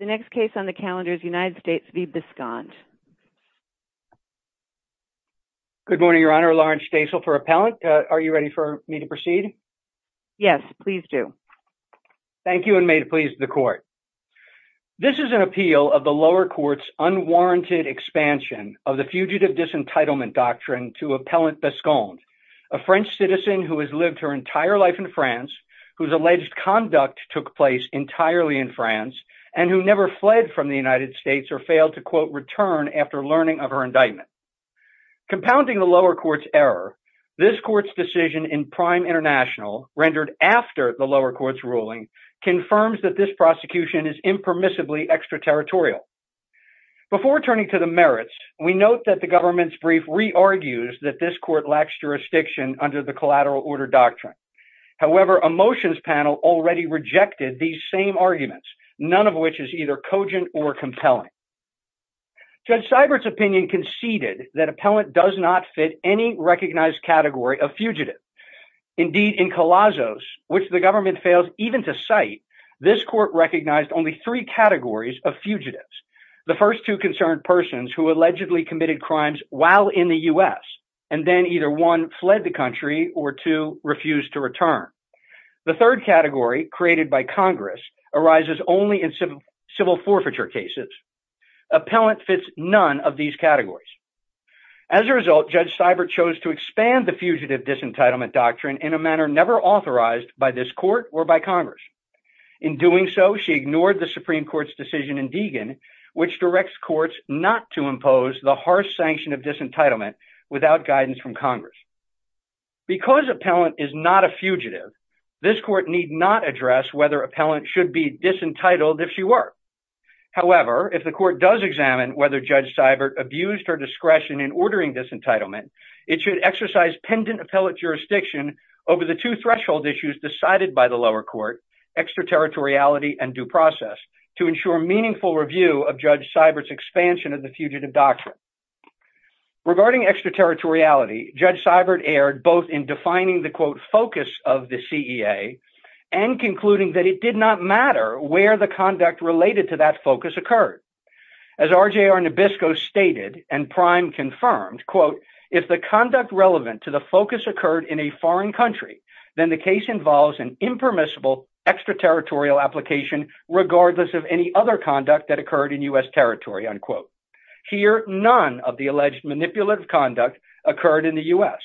The next case on the calendar is United States v. Bescond. Good morning, Your Honor. Lawrence Stasel for Appellant. Are you ready for me to proceed? Yes, please do. Thank you, and may it please the Court. This is an appeal of the lower court's unwarranted expansion of the Fugitive Disentitlement Doctrine to Appellant Bescond, a French citizen who has lived her entire life in France, whose alleged conduct took place entirely in France, and who never fled from the United States or failed to, quote, return after learning of her indictment. Compounding the lower court's error, this court's decision in prime international, rendered after the lower court's ruling, confirms that this prosecution is impermissibly extraterritorial. Before turning to the merits, we note that the government's brief re-argues that this court lacks jurisdiction under the motions panel already rejected these same arguments, none of which is either cogent or compelling. Judge Seibert's opinion conceded that Appellant does not fit any recognized category of fugitive. Indeed, in Colossos, which the government fails even to cite, this court recognized only three categories of fugitives, the first two concerned persons who allegedly committed crimes while in the U.S., and then either one fled the country or two refused to return. The third category, created by Congress, arises only in civil forfeiture cases. Appellant fits none of these categories. As a result, Judge Seibert chose to expand the Fugitive Disentitlement Doctrine in a manner never authorized by this court or by Congress. In doing so, she ignored the Supreme Court's decision in Deegan, which directs courts not to impose the harsh sanction of disentitlement without guidance from Congress. Because Appellant is not a fugitive, this court need not address whether Appellant should be disentitled if she were. However, if the court does examine whether Judge Seibert abused her discretion in ordering disentitlement, it should exercise pendant appellate jurisdiction over the two threshold issues decided by the lower court, extraterritoriality and due process, to ensure meaningful review of Judge Seibert's expansion of the Fugitive Doctrine. Regarding extraterritoriality, Judge Seibert erred both in defining the, quote, focus of the CEA and concluding that it did not matter where the conduct related to that focus occurred. As RJR Nabisco stated and Prime confirmed, quote, if the conduct relevant to the focus occurred in a foreign country, then the case involves an impermissible extraterritorial application regardless of any other conduct that occurred in U.S. territory, unquote. Here, none of the alleged manipulative conduct occurred in the U.S.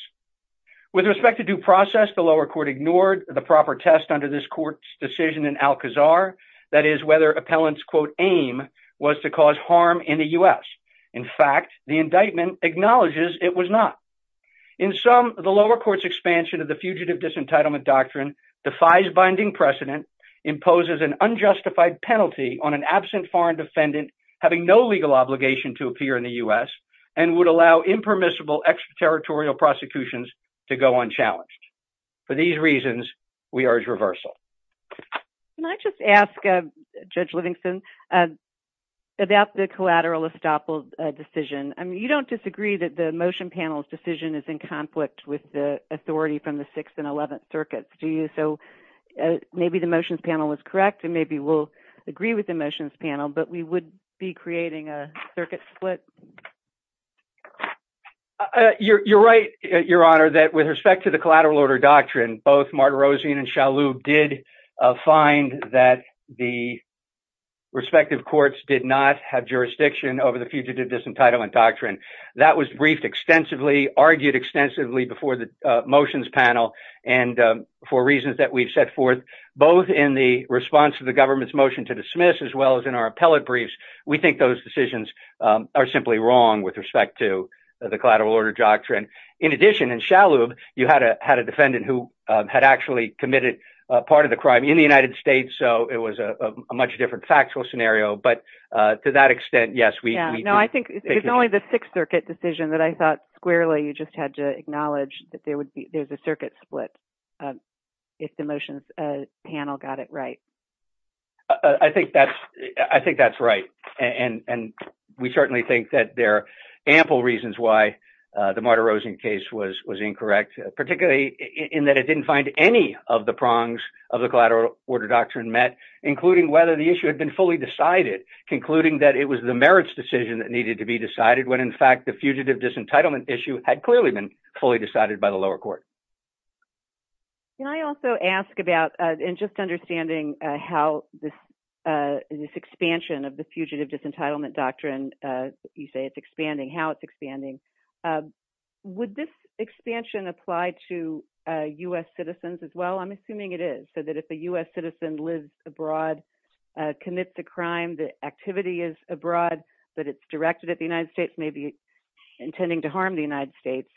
With respect to due process, the lower court ignored the proper test under this court's decision in Alcazar, that is whether Appellant's, quote, aim was to cause harm in the U.S. In fact, the indictment acknowledges it was not. In sum, the lower court's expansion of the Fugitive Disentitlement Doctrine defies binding precedent, imposes an unjustified penalty on an absent foreign defendant having no legal obligation to appear in the U.S. and would allow impermissible extraterritorial prosecutions to go unchallenged. For these reasons, we urge reversal. Can I just ask, uh, Judge Livingston, uh, about the collateral estoppel, uh, decision. I mean, you don't disagree that the motion panel's decision is in conflict with the authority from the 6th and 11th circuits, do you? So, uh, maybe the motions panel was correct and maybe we'll agree with the motions panel, but we would be creating a circuit split. You're, you're right, Your Honor, that with respect to the collateral order doctrine, both Martirosian and Shalhoub did, uh, find that the respective courts did not have jurisdiction over the Fugitive Disentitlement Doctrine. That was briefed extensively, argued extensively before the, uh, motions panel, and, um, for reasons that we've set forth both in the response to the government's motion to dismiss as well as in our appellate briefs, we think those decisions, um, are simply wrong with respect to the collateral order doctrine. In addition, in Shalhoub, you had a, had a defendant who, um, had actually committed a part of the crime in the United States, so it was a, a much different factual scenario, but, uh, to that extent, yes, we, we... Yeah, no, I think it's only the 6th circuit decision that I thought squarely you just had to acknowledge that there would be, there's a circuit split, um, if the motions, uh, panel got it right. Uh, I think that's, I think that's right, and, and we certainly think that there are ample reasons why, uh, the Marta Rosen case was, was incorrect, particularly in that it didn't find any of the prongs of the collateral order doctrine met, including whether the issue had been fully decided, concluding that it was the merits decision that needed to be decided when, in fact, the Fugitive Disentitlement Issue had clearly been fully decided by the lower court. Can I also ask about, uh, and just understanding, uh, how this, uh, this expansion of the Fugitive Disentitlement Doctrine, uh, you say it's expanding, how it's expanding, uh, would this expansion apply to, uh, U.S. citizens as well? I'm assuming it is, so that if a U.S. citizen lives abroad, uh, commits a crime, the activity is abroad, but it's directed at the United States, maybe intending to harm the United States,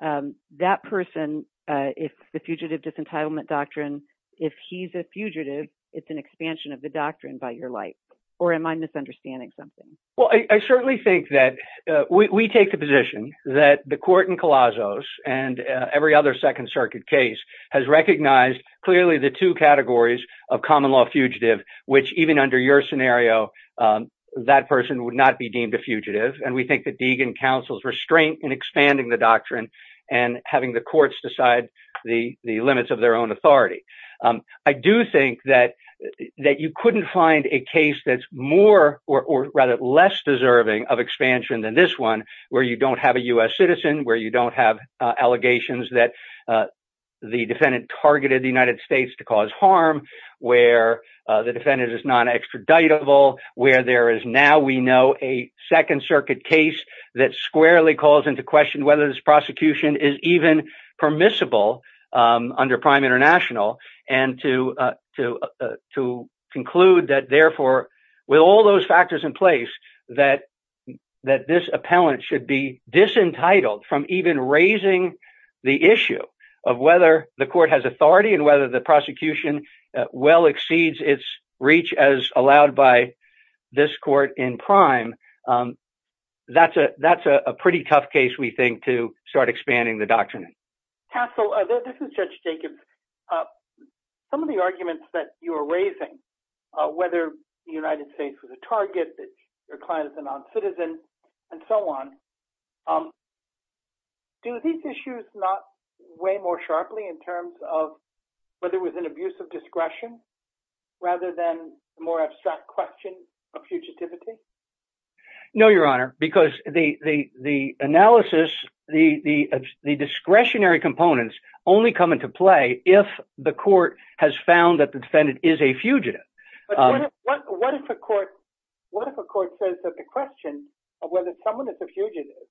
um, that person, uh, if the Fugitive Disentitlement Doctrine, if he's a fugitive, it's an expansion of the doctrine by your light, or am I misunderstanding something? Well, I, I certainly think that, uh, we, we take the position that the court in Colossos and, uh, every other Second Circuit case has recognized clearly the two categories of common law fugitive, which even under your scenario, um, that person would not be deemed a fugitive, and we think that Deegan counsels restraint in expanding the doctrine and having the courts decide the, the limits of their own authority. Um, I do think that, that you couldn't find a case that's more, or, or rather, less deserving of expansion than this one, where you don't have a U.S. citizen, where you don't have, uh, allegations that, uh, the defendant targeted the United States to cause harm, where, uh, the defendant is non-extraditable, where there is now, we know, a Second Circuit case that squarely calls into question whether this prosecution is even permissible, um, under Prime International, and to, uh, to, uh, to conclude that, therefore, with all those factors in place, that, that this appellant should be disentitled from even raising the issue of whether the court has authority and whether the prosecution, uh, well exceeds its reach as allowed by this court in Prime, um, that's a, that's a pretty tough case, we think, to start expanding the case, because, uh, some of the arguments that you are raising, uh, whether the United States was a target, that your client is a non-citizen, and so on, um, do these issues not weigh more sharply in terms of whether it was an abuse of discretion, rather than a more abstract question of fugitivity? No, Your Honor, because the, the, the analysis, the, the, the discretionary components only come into play if the court has found that the defendant is a fugitive. But what, what if a court, what if a court says that the question of whether someone is a fugitive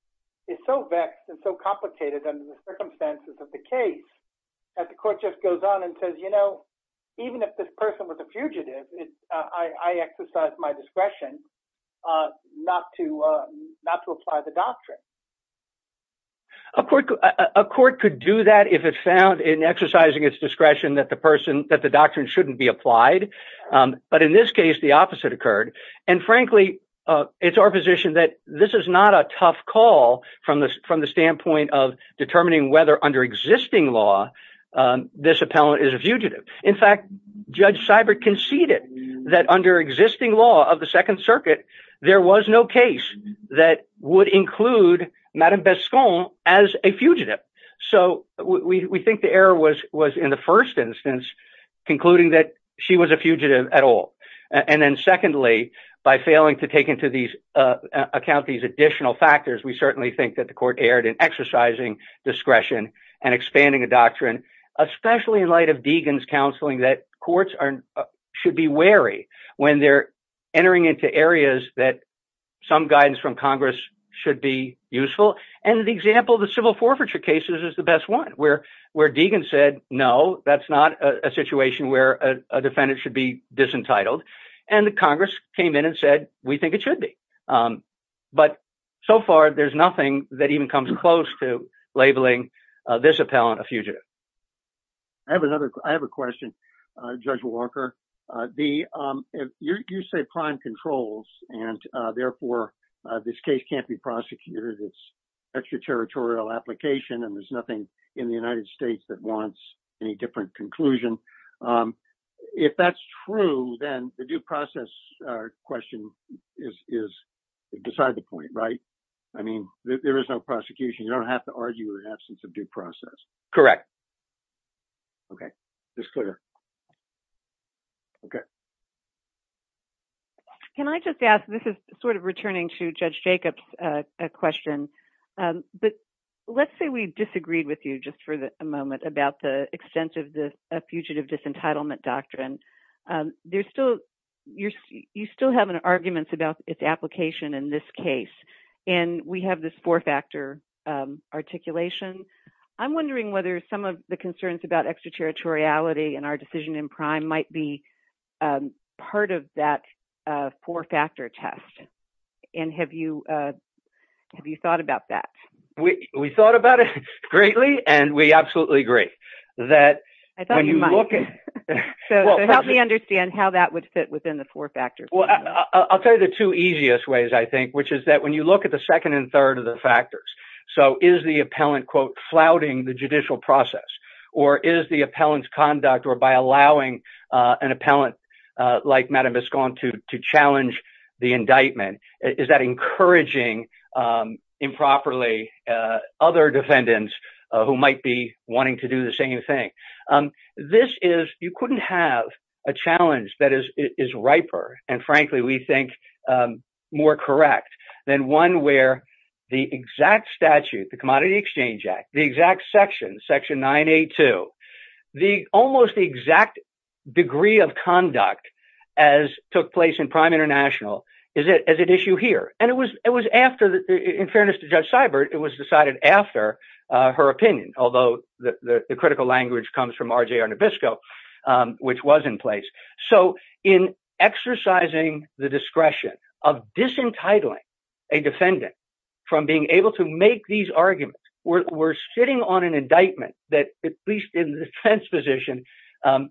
is so vexed and so complicated under the circumstances of the case, that the court just goes on and says, you know, even if this person was a fugitive, it's, uh, I, I exercise my discretion, uh, not to, uh, not to apply the doctrine. A court, a, a court could do that if it found in exercising its discretion that the person, that the doctrine shouldn't be applied, um, but in this case, the opposite occurred, and frankly, uh, it's our position that this is not a tough call from the, from the standpoint of determining whether under existing law, um, this appellant is a fugitive. In fact, Judge Seibert conceded that under existing law of the Second Circuit, there was no case that would include Madame Bescon as a fugitive. So we, we think the error was, was in the first instance, concluding that she was a fugitive at all. And then secondly, by failing to take into these, uh, account these additional factors, we certainly think that the court erred in exercising discretion and expanding a doctrine, especially in light of Deegan's that some guidance from Congress should be useful. And the example of the civil forfeiture cases is the best one where, where Deegan said, no, that's not a situation where a defendant should be disentitled. And the Congress came in and said, we think it should be. Um, but so far, there's nothing that even comes close to labeling, uh, this appellant a fugitive. I have another, I have a question, uh, Judge Walker, uh, the, um, if you're, you say prime controls and, uh, therefore, uh, this case can't be prosecuted, it's extraterritorial application, and there's nothing in the United States that wants any different conclusion. Um, if that's true, then the due process question is, is beside the point, right? I mean, there is no prosecution. You don't have to argue an absence of due process. Correct. Okay. It's clear. Okay. Can I just ask, this is sort of returning to Judge Jacob's, uh, question. Um, but let's say we disagreed with you just for the moment about the extent of the fugitive disentitlement doctrine. Um, there's still, you're, you still have an arguments about its application in this case, and we have this four-factor, um, articulation. I'm wondering whether some of the concerns about extraterritoriality and our decision in prime might be, um, part of that, uh, four-factor test, and have you, uh, have you thought about that? We, we thought about it greatly, and we absolutely agree that when you look at... So help me understand how that would fit within the four-factor. Well, I'll tell you the two easiest ways, I think, which is that when you look at the second and third of the factors, so is the appellant, quote, flouting the judicial process, or is the appellant's conduct, or by allowing, uh, an appellant, uh, like Madam Bisconti to challenge the indictment, is that encouraging, um, improperly, uh, other defendants who might be and frankly, we think, um, more correct than one where the exact statute, the Commodity Exchange Act, the exact section, section 982, the, almost the exact degree of conduct as took place in Prime International is it, is at issue here, and it was, it was after the, in fairness to Judge Seibert, it was decided after, uh, her opinion, although the, the critical language comes from R.J.R. Nabisco, which was in place, so in exercising the discretion of disentitling a defendant from being able to make these arguments, we're sitting on an indictment that, at least in the defense position, um,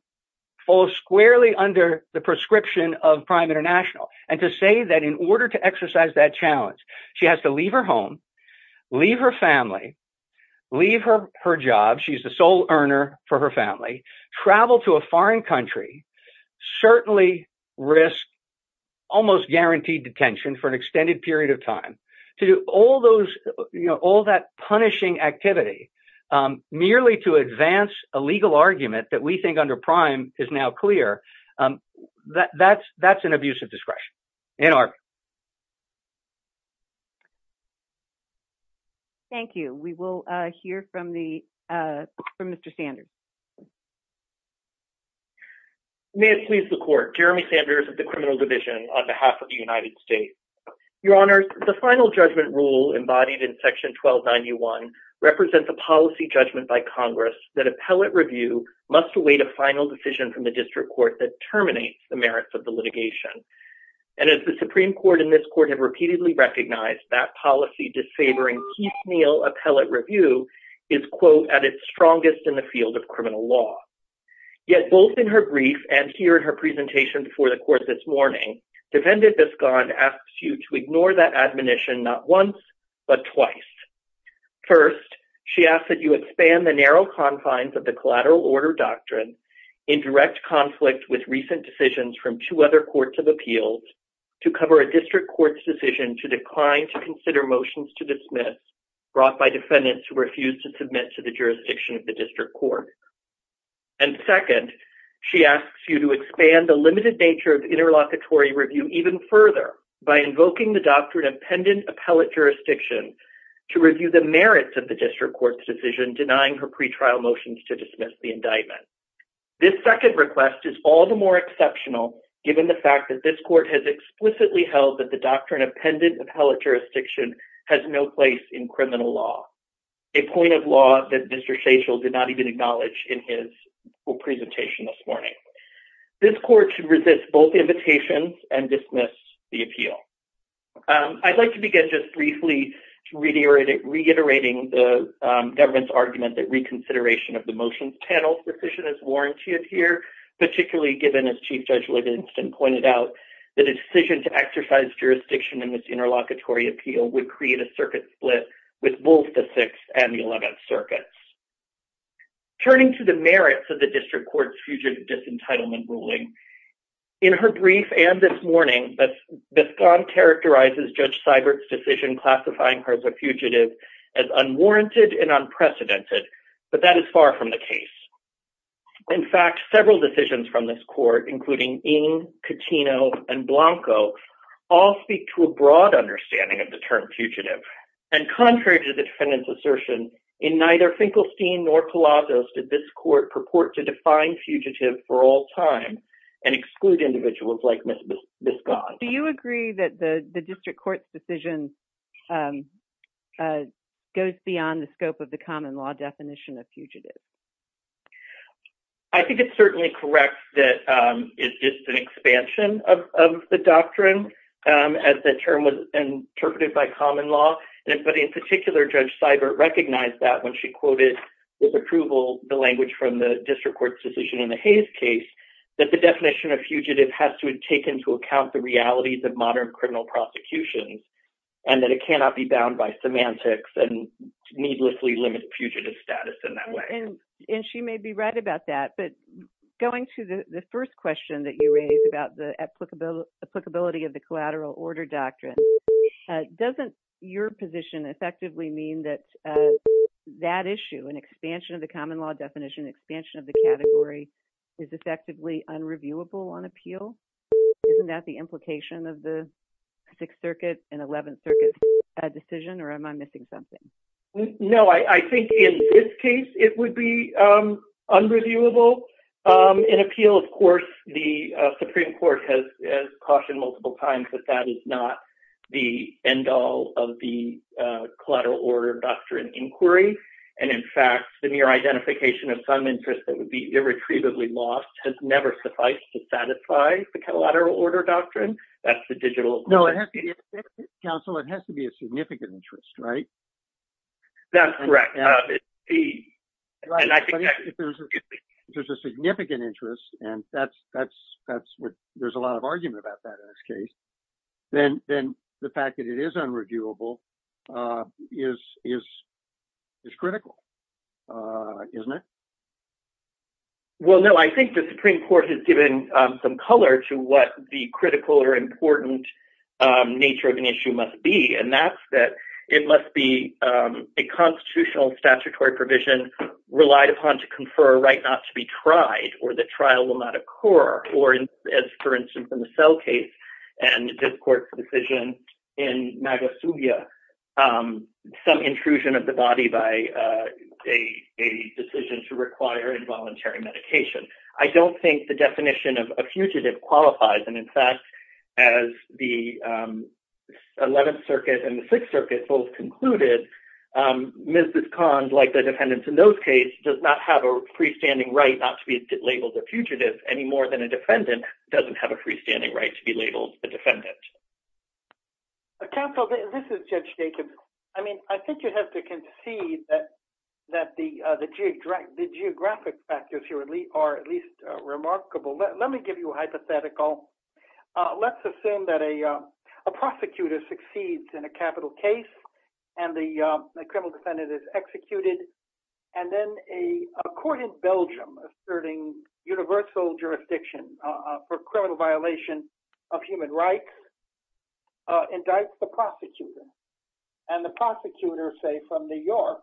falls squarely under the prescription of Prime International, and to say that in order to exercise that challenge, she has to leave her home, leave her family, leave her, her job, she's a sole earner for her family, travel to a foreign country, certainly risk almost guaranteed detention for an extended period of time, to do all those, you know, all that punishing activity, um, merely to advance a legal argument that we think under Prime is now clear, um, that, that's, that's an discretion. Ann Arby. Thank you. We will, uh, hear from the, uh, from Mr. Sanders. May it please the Court. Jeremy Sanders of the Criminal Division on behalf of the United States. Your Honors, the final judgment rule embodied in Section 1291 represents a policy judgment by Congress that appellate review must await a final decision from the district court that terminates the merits of the litigation, and as the Supreme Court and this Court have repeatedly recognized, that policy disfavoring Keith Neal appellate review is, quote, at its strongest in the field of criminal law. Yet, both in her brief and here in her presentation before the Court this morning, Defendant Biscond asks you to ignore that admonition not once, but twice. First, she asks that you expand the narrow confines of the collateral order doctrine in direct conflict with recent decisions from two other courts of appeals to cover a district court's decision to decline to consider motions to dismiss brought by defendants who refuse to submit to the jurisdiction of the district court. And second, she asks you to expand the limited nature of interlocutory review even further by invoking the doctrine of pendant appellate jurisdiction to review the merits of the district court's decision denying her pretrial motions to dismiss the indictment. This second request is all the more exceptional given the fact that this Court has explicitly held that the doctrine of pendant appellate jurisdiction has no place in criminal law, a point of law that Mr. Shachel did not even acknowledge in his presentation this morning. This Court should resist both invitations and dismiss the appeal. I'd like to begin just briefly to reiterate reiterating the government's argument that reconsideration of the motions panel's decision is warranted here, particularly given, as Chief Judge Livingston pointed out, that a decision to exercise jurisdiction in this interlocutory appeal would create a circuit split with both the Sixth and the Eleventh Circuits. Turning to the merits of the district court's fugitive disentitlement ruling, in her brief and this morning, Biscott characterizes Judge Seibert's decision classifying her as a fugitive as unwarranted and unprecedented, but that is far from the case. In fact, several decisions from this Court, including Ng, Catino, and Blanco, all speak to a broad understanding of the term fugitive, and contrary to the defendant's assertion, in neither Finkelstein nor Palazzo's did this Court purport to define fugitive for all time and exclude individuals like Ms. Biscott. Do you agree that the district court's decision goes beyond the scope of the common law definition of fugitive? I think it's certainly correct that it's just an expansion of the doctrine as the term was interpreted by common law, but in particular, Judge Seibert recognized that when she quoted with approval the language from the district court's decision in the Hayes case, that the and that it cannot be bound by semantics and needlessly limit fugitive status in that way. And she may be right about that, but going to the first question that you raised about the applicability of the collateral order doctrine, doesn't your position effectively mean that that issue, an expansion of the common law definition, expansion of the category, is effectively unreviewable on appeal? Isn't that the implication of the Sixth Circuit and Eleventh Circuit decision, or am I missing something? No, I think in this case, it would be unreviewable. In appeal, of course, the Supreme Court has cautioned multiple times that that is not the end-all of the collateral order doctrine inquiry. And in fact, the mere identification of some interest that would be irretrievably lost has never sufficed to satisfy the collateral order doctrine. That's the digital... No, counsel, it has to be a significant interest, right? That's correct. If there's a significant interest, and there's a lot of argument about that in this case, then the fact that it is unreviewable is critical, isn't it? Well, no, I think the Supreme Court has given some color to what the critical or important nature of an issue must be, and that's that it must be a constitutional statutory provision relied upon to confer a right not to be tried, or that trial will not occur. Or as, for instance, in the Sell case and this court's decision in Magasuya, some intrusion of the body by a decision to require involuntary medication. I don't think the definition of a fugitive qualifies, and in fact, as the 11th Circuit and the 6th Circuit both concluded, Mrs. Kahn, like the defendants in those cases, does not have a freestanding right not to be labeled a fugitive any more than a defendant doesn't have a freestanding right to be labeled a defendant. Counsel, this is Judge Jacobs. I mean, I think you have to concede that the geographic factors here are at least remarkable. Let me give you a hypothetical. Let's assume that a prosecutor succeeds in a capital case, and the criminal defendant is executed, and then a court in jurisdiction for criminal violation of human rights indicts the prosecutor, and the prosecutor, say, from New York,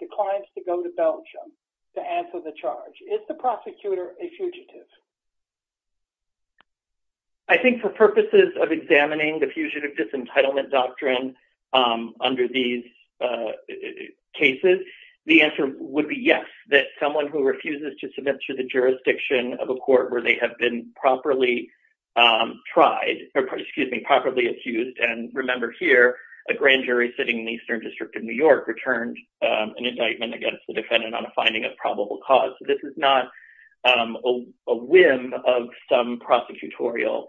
declines to go to Belgium to answer the charge. Is the prosecutor a fugitive? I think for purposes of examining the Fugitive Disentitlement Doctrine under these cases, the answer would be yes, that someone who refuses to submit to the jurisdiction of a court where they have been properly tried, or excuse me, properly accused, and remember here, a grand jury sitting in the Eastern District of New York returned an indictment against the defendant on a finding of probable cause. This is not a whim of some prosecutorial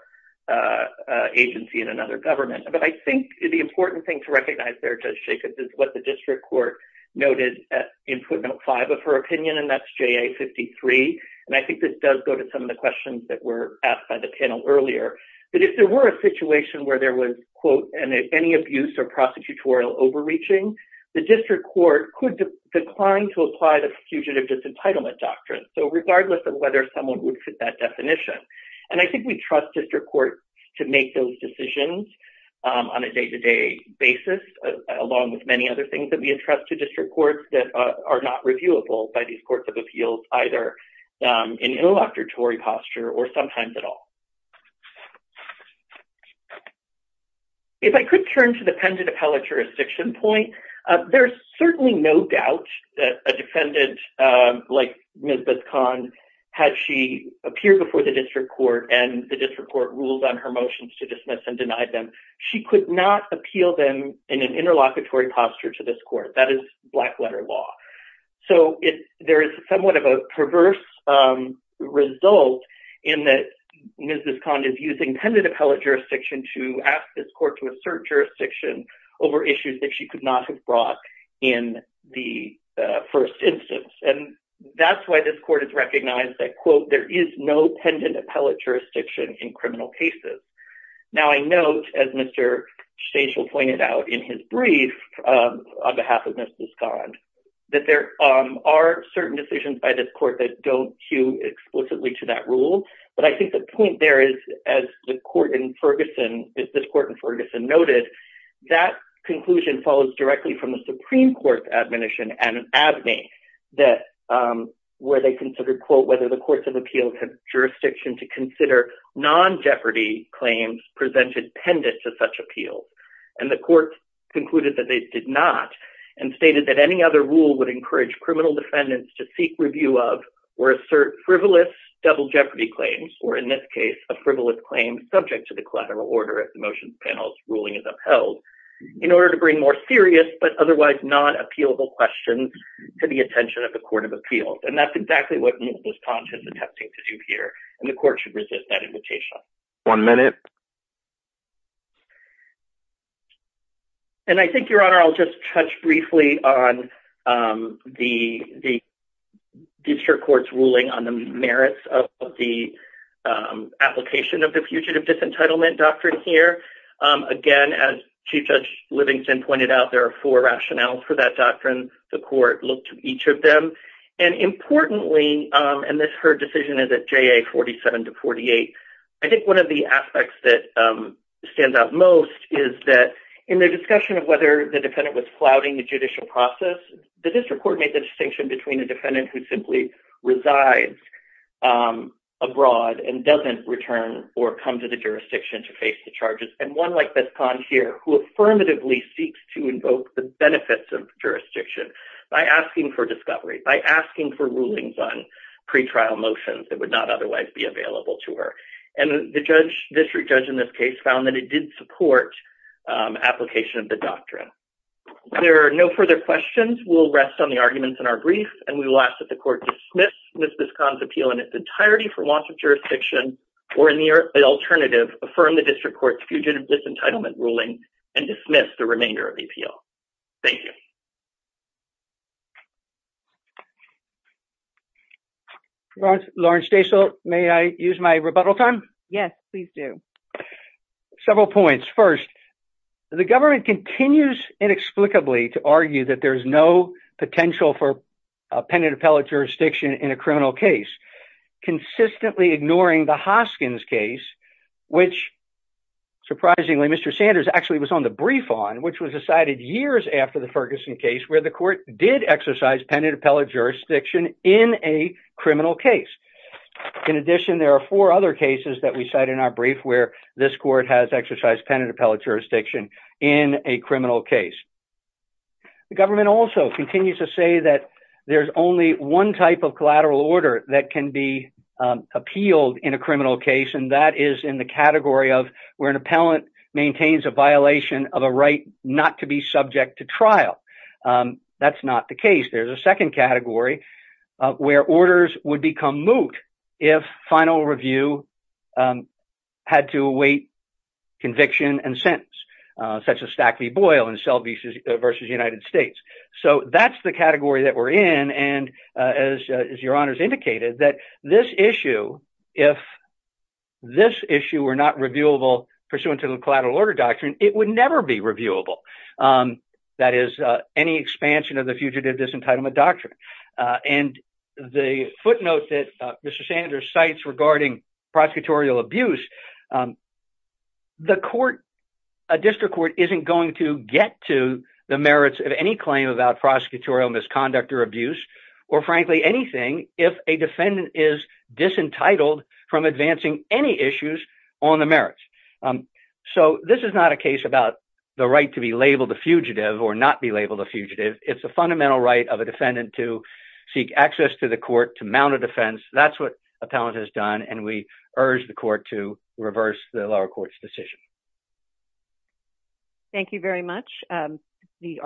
agency in another government, but I think the important thing to recognize there, Judge Jacobs, is what the district court noted in footnote 5 of her opinion, and that's JA 53, and I think this does go to some of the questions that were asked by the panel earlier, but if there were a situation where there was, quote, any abuse or prosecutorial overreaching, the district court could decline to apply the Fugitive Disentitlement Doctrine, so regardless of whether someone would fit that definition, and I think we trust district courts to make those decisions on a day-to-day basis, along with many other things that we entrust to district courts that are not reviewable by these courts of appeals, either in an interlocutory posture or sometimes at all. If I could turn to the pendant appellate jurisdiction point, there's certainly no doubt that a defendant like Ms. Bisconn, had she appeared before the district court and the district court ruled on her motions to dismiss and denied them, she could not appeal them in an interlocutory posture to this court. That is black letter law. So there is somewhat of a perverse result in that Ms. Bisconn is using pendant appellate jurisdiction to ask this court to assert jurisdiction over issues that she could not have brought in the first instance, and that's why this court has recognized that, quote, there is no pendant appellate jurisdiction in criminal cases. Now I note, as Mr. Stachel pointed out in his brief on behalf of Ms. Bisconn, that there are certain decisions by this court that don't hew explicitly to that rule, but I think the point there is, as the court in Ferguson, as this court in Ferguson noted, that conclusion follows directly from the Supreme Court's admonition and abney that, where they considered, quote, whether the courts have jurisdiction to consider non-jeopardy claims presented pendant to such appeals, and the court concluded that they did not, and stated that any other rule would encourage criminal defendants to seek review of or assert frivolous double jeopardy claims, or in this case, a frivolous claim subject to the collateral order as the motions panel's ruling is upheld, in order to bring more serious but otherwise non-appealable questions to the attention of court of appeals, and that's exactly what Ms. Bisconn is attempting to do here, and the court should resist that invitation. One minute. And I think, Your Honor, I'll just touch briefly on the district court's ruling on the merits of the application of the Fugitive Disentitlement Doctrine here. Again, as Chief Judge Livingston pointed out, there are four rationales for that doctrine. The court looked at each of them, and importantly, and this, her decision is at JA 47 to 48, I think one of the aspects that stands out most is that in the discussion of whether the defendant was flouting the judicial process, the district court made the distinction between a defendant who simply resides abroad and doesn't return or come to the jurisdiction to face the charges, and one like Bisconn here, who affirmatively seeks to invoke the benefits of jurisdiction by asking for discovery, by asking for rulings on pretrial motions that would not otherwise be available to her. And the judge, district judge in this case, found that it did support application of the doctrine. There are no further questions. We'll rest on the arguments in our brief, and we will ask that the court dismiss Ms. Bisconn's appeal in its entirety for launch of jurisdiction, or in the alternative, affirm the district court's fugitive disentitlement ruling, and dismiss the remainder of the appeal. Thank you. Lauren Stachel, may I use my rebuttal time? Yes, please do. Several points. First, the government continues inexplicably to argue that there's no potential for a penitent appellate jurisdiction in a criminal case, consistently ignoring the Hoskins case, which, surprisingly, Mr. Sanders actually was on the brief on, which was decided years after the Ferguson case, where the court did exercise penitent appellate jurisdiction in a criminal case. In addition, there are four other cases that we cite in our brief where this court has exercised penitent appellate jurisdiction in a criminal case. The government also continues to say that there's only one type of collateral order that can be in the category of where an appellant maintains a violation of a right not to be subject to trial. That's not the case. There's a second category where orders would become moot if final review had to await conviction and sentence, such as Stack v. Boyle and Selby v. United States. So that's the category that we're in, and as your honors indicated, that this issue, if this issue were not reviewable pursuant to the collateral order doctrine, it would never be reviewable. That is, any expansion of the fugitive disentitlement doctrine. And the footnote that Mr. Sanders cites regarding prosecutorial abuse, the court, a district court isn't going to get to the merits of any claim about prosecutorial misconduct or abuse, or frankly anything, if a defendant is disentitled from advancing any issues on the merits. So this is not a case about the right to be labeled a fugitive or not be labeled a fugitive. It's a fundamental right of a defendant to seek access to the court, to mount a defense. That's what appellant has done, and we urge the court to reverse the lower court's decision. Thank you very much. The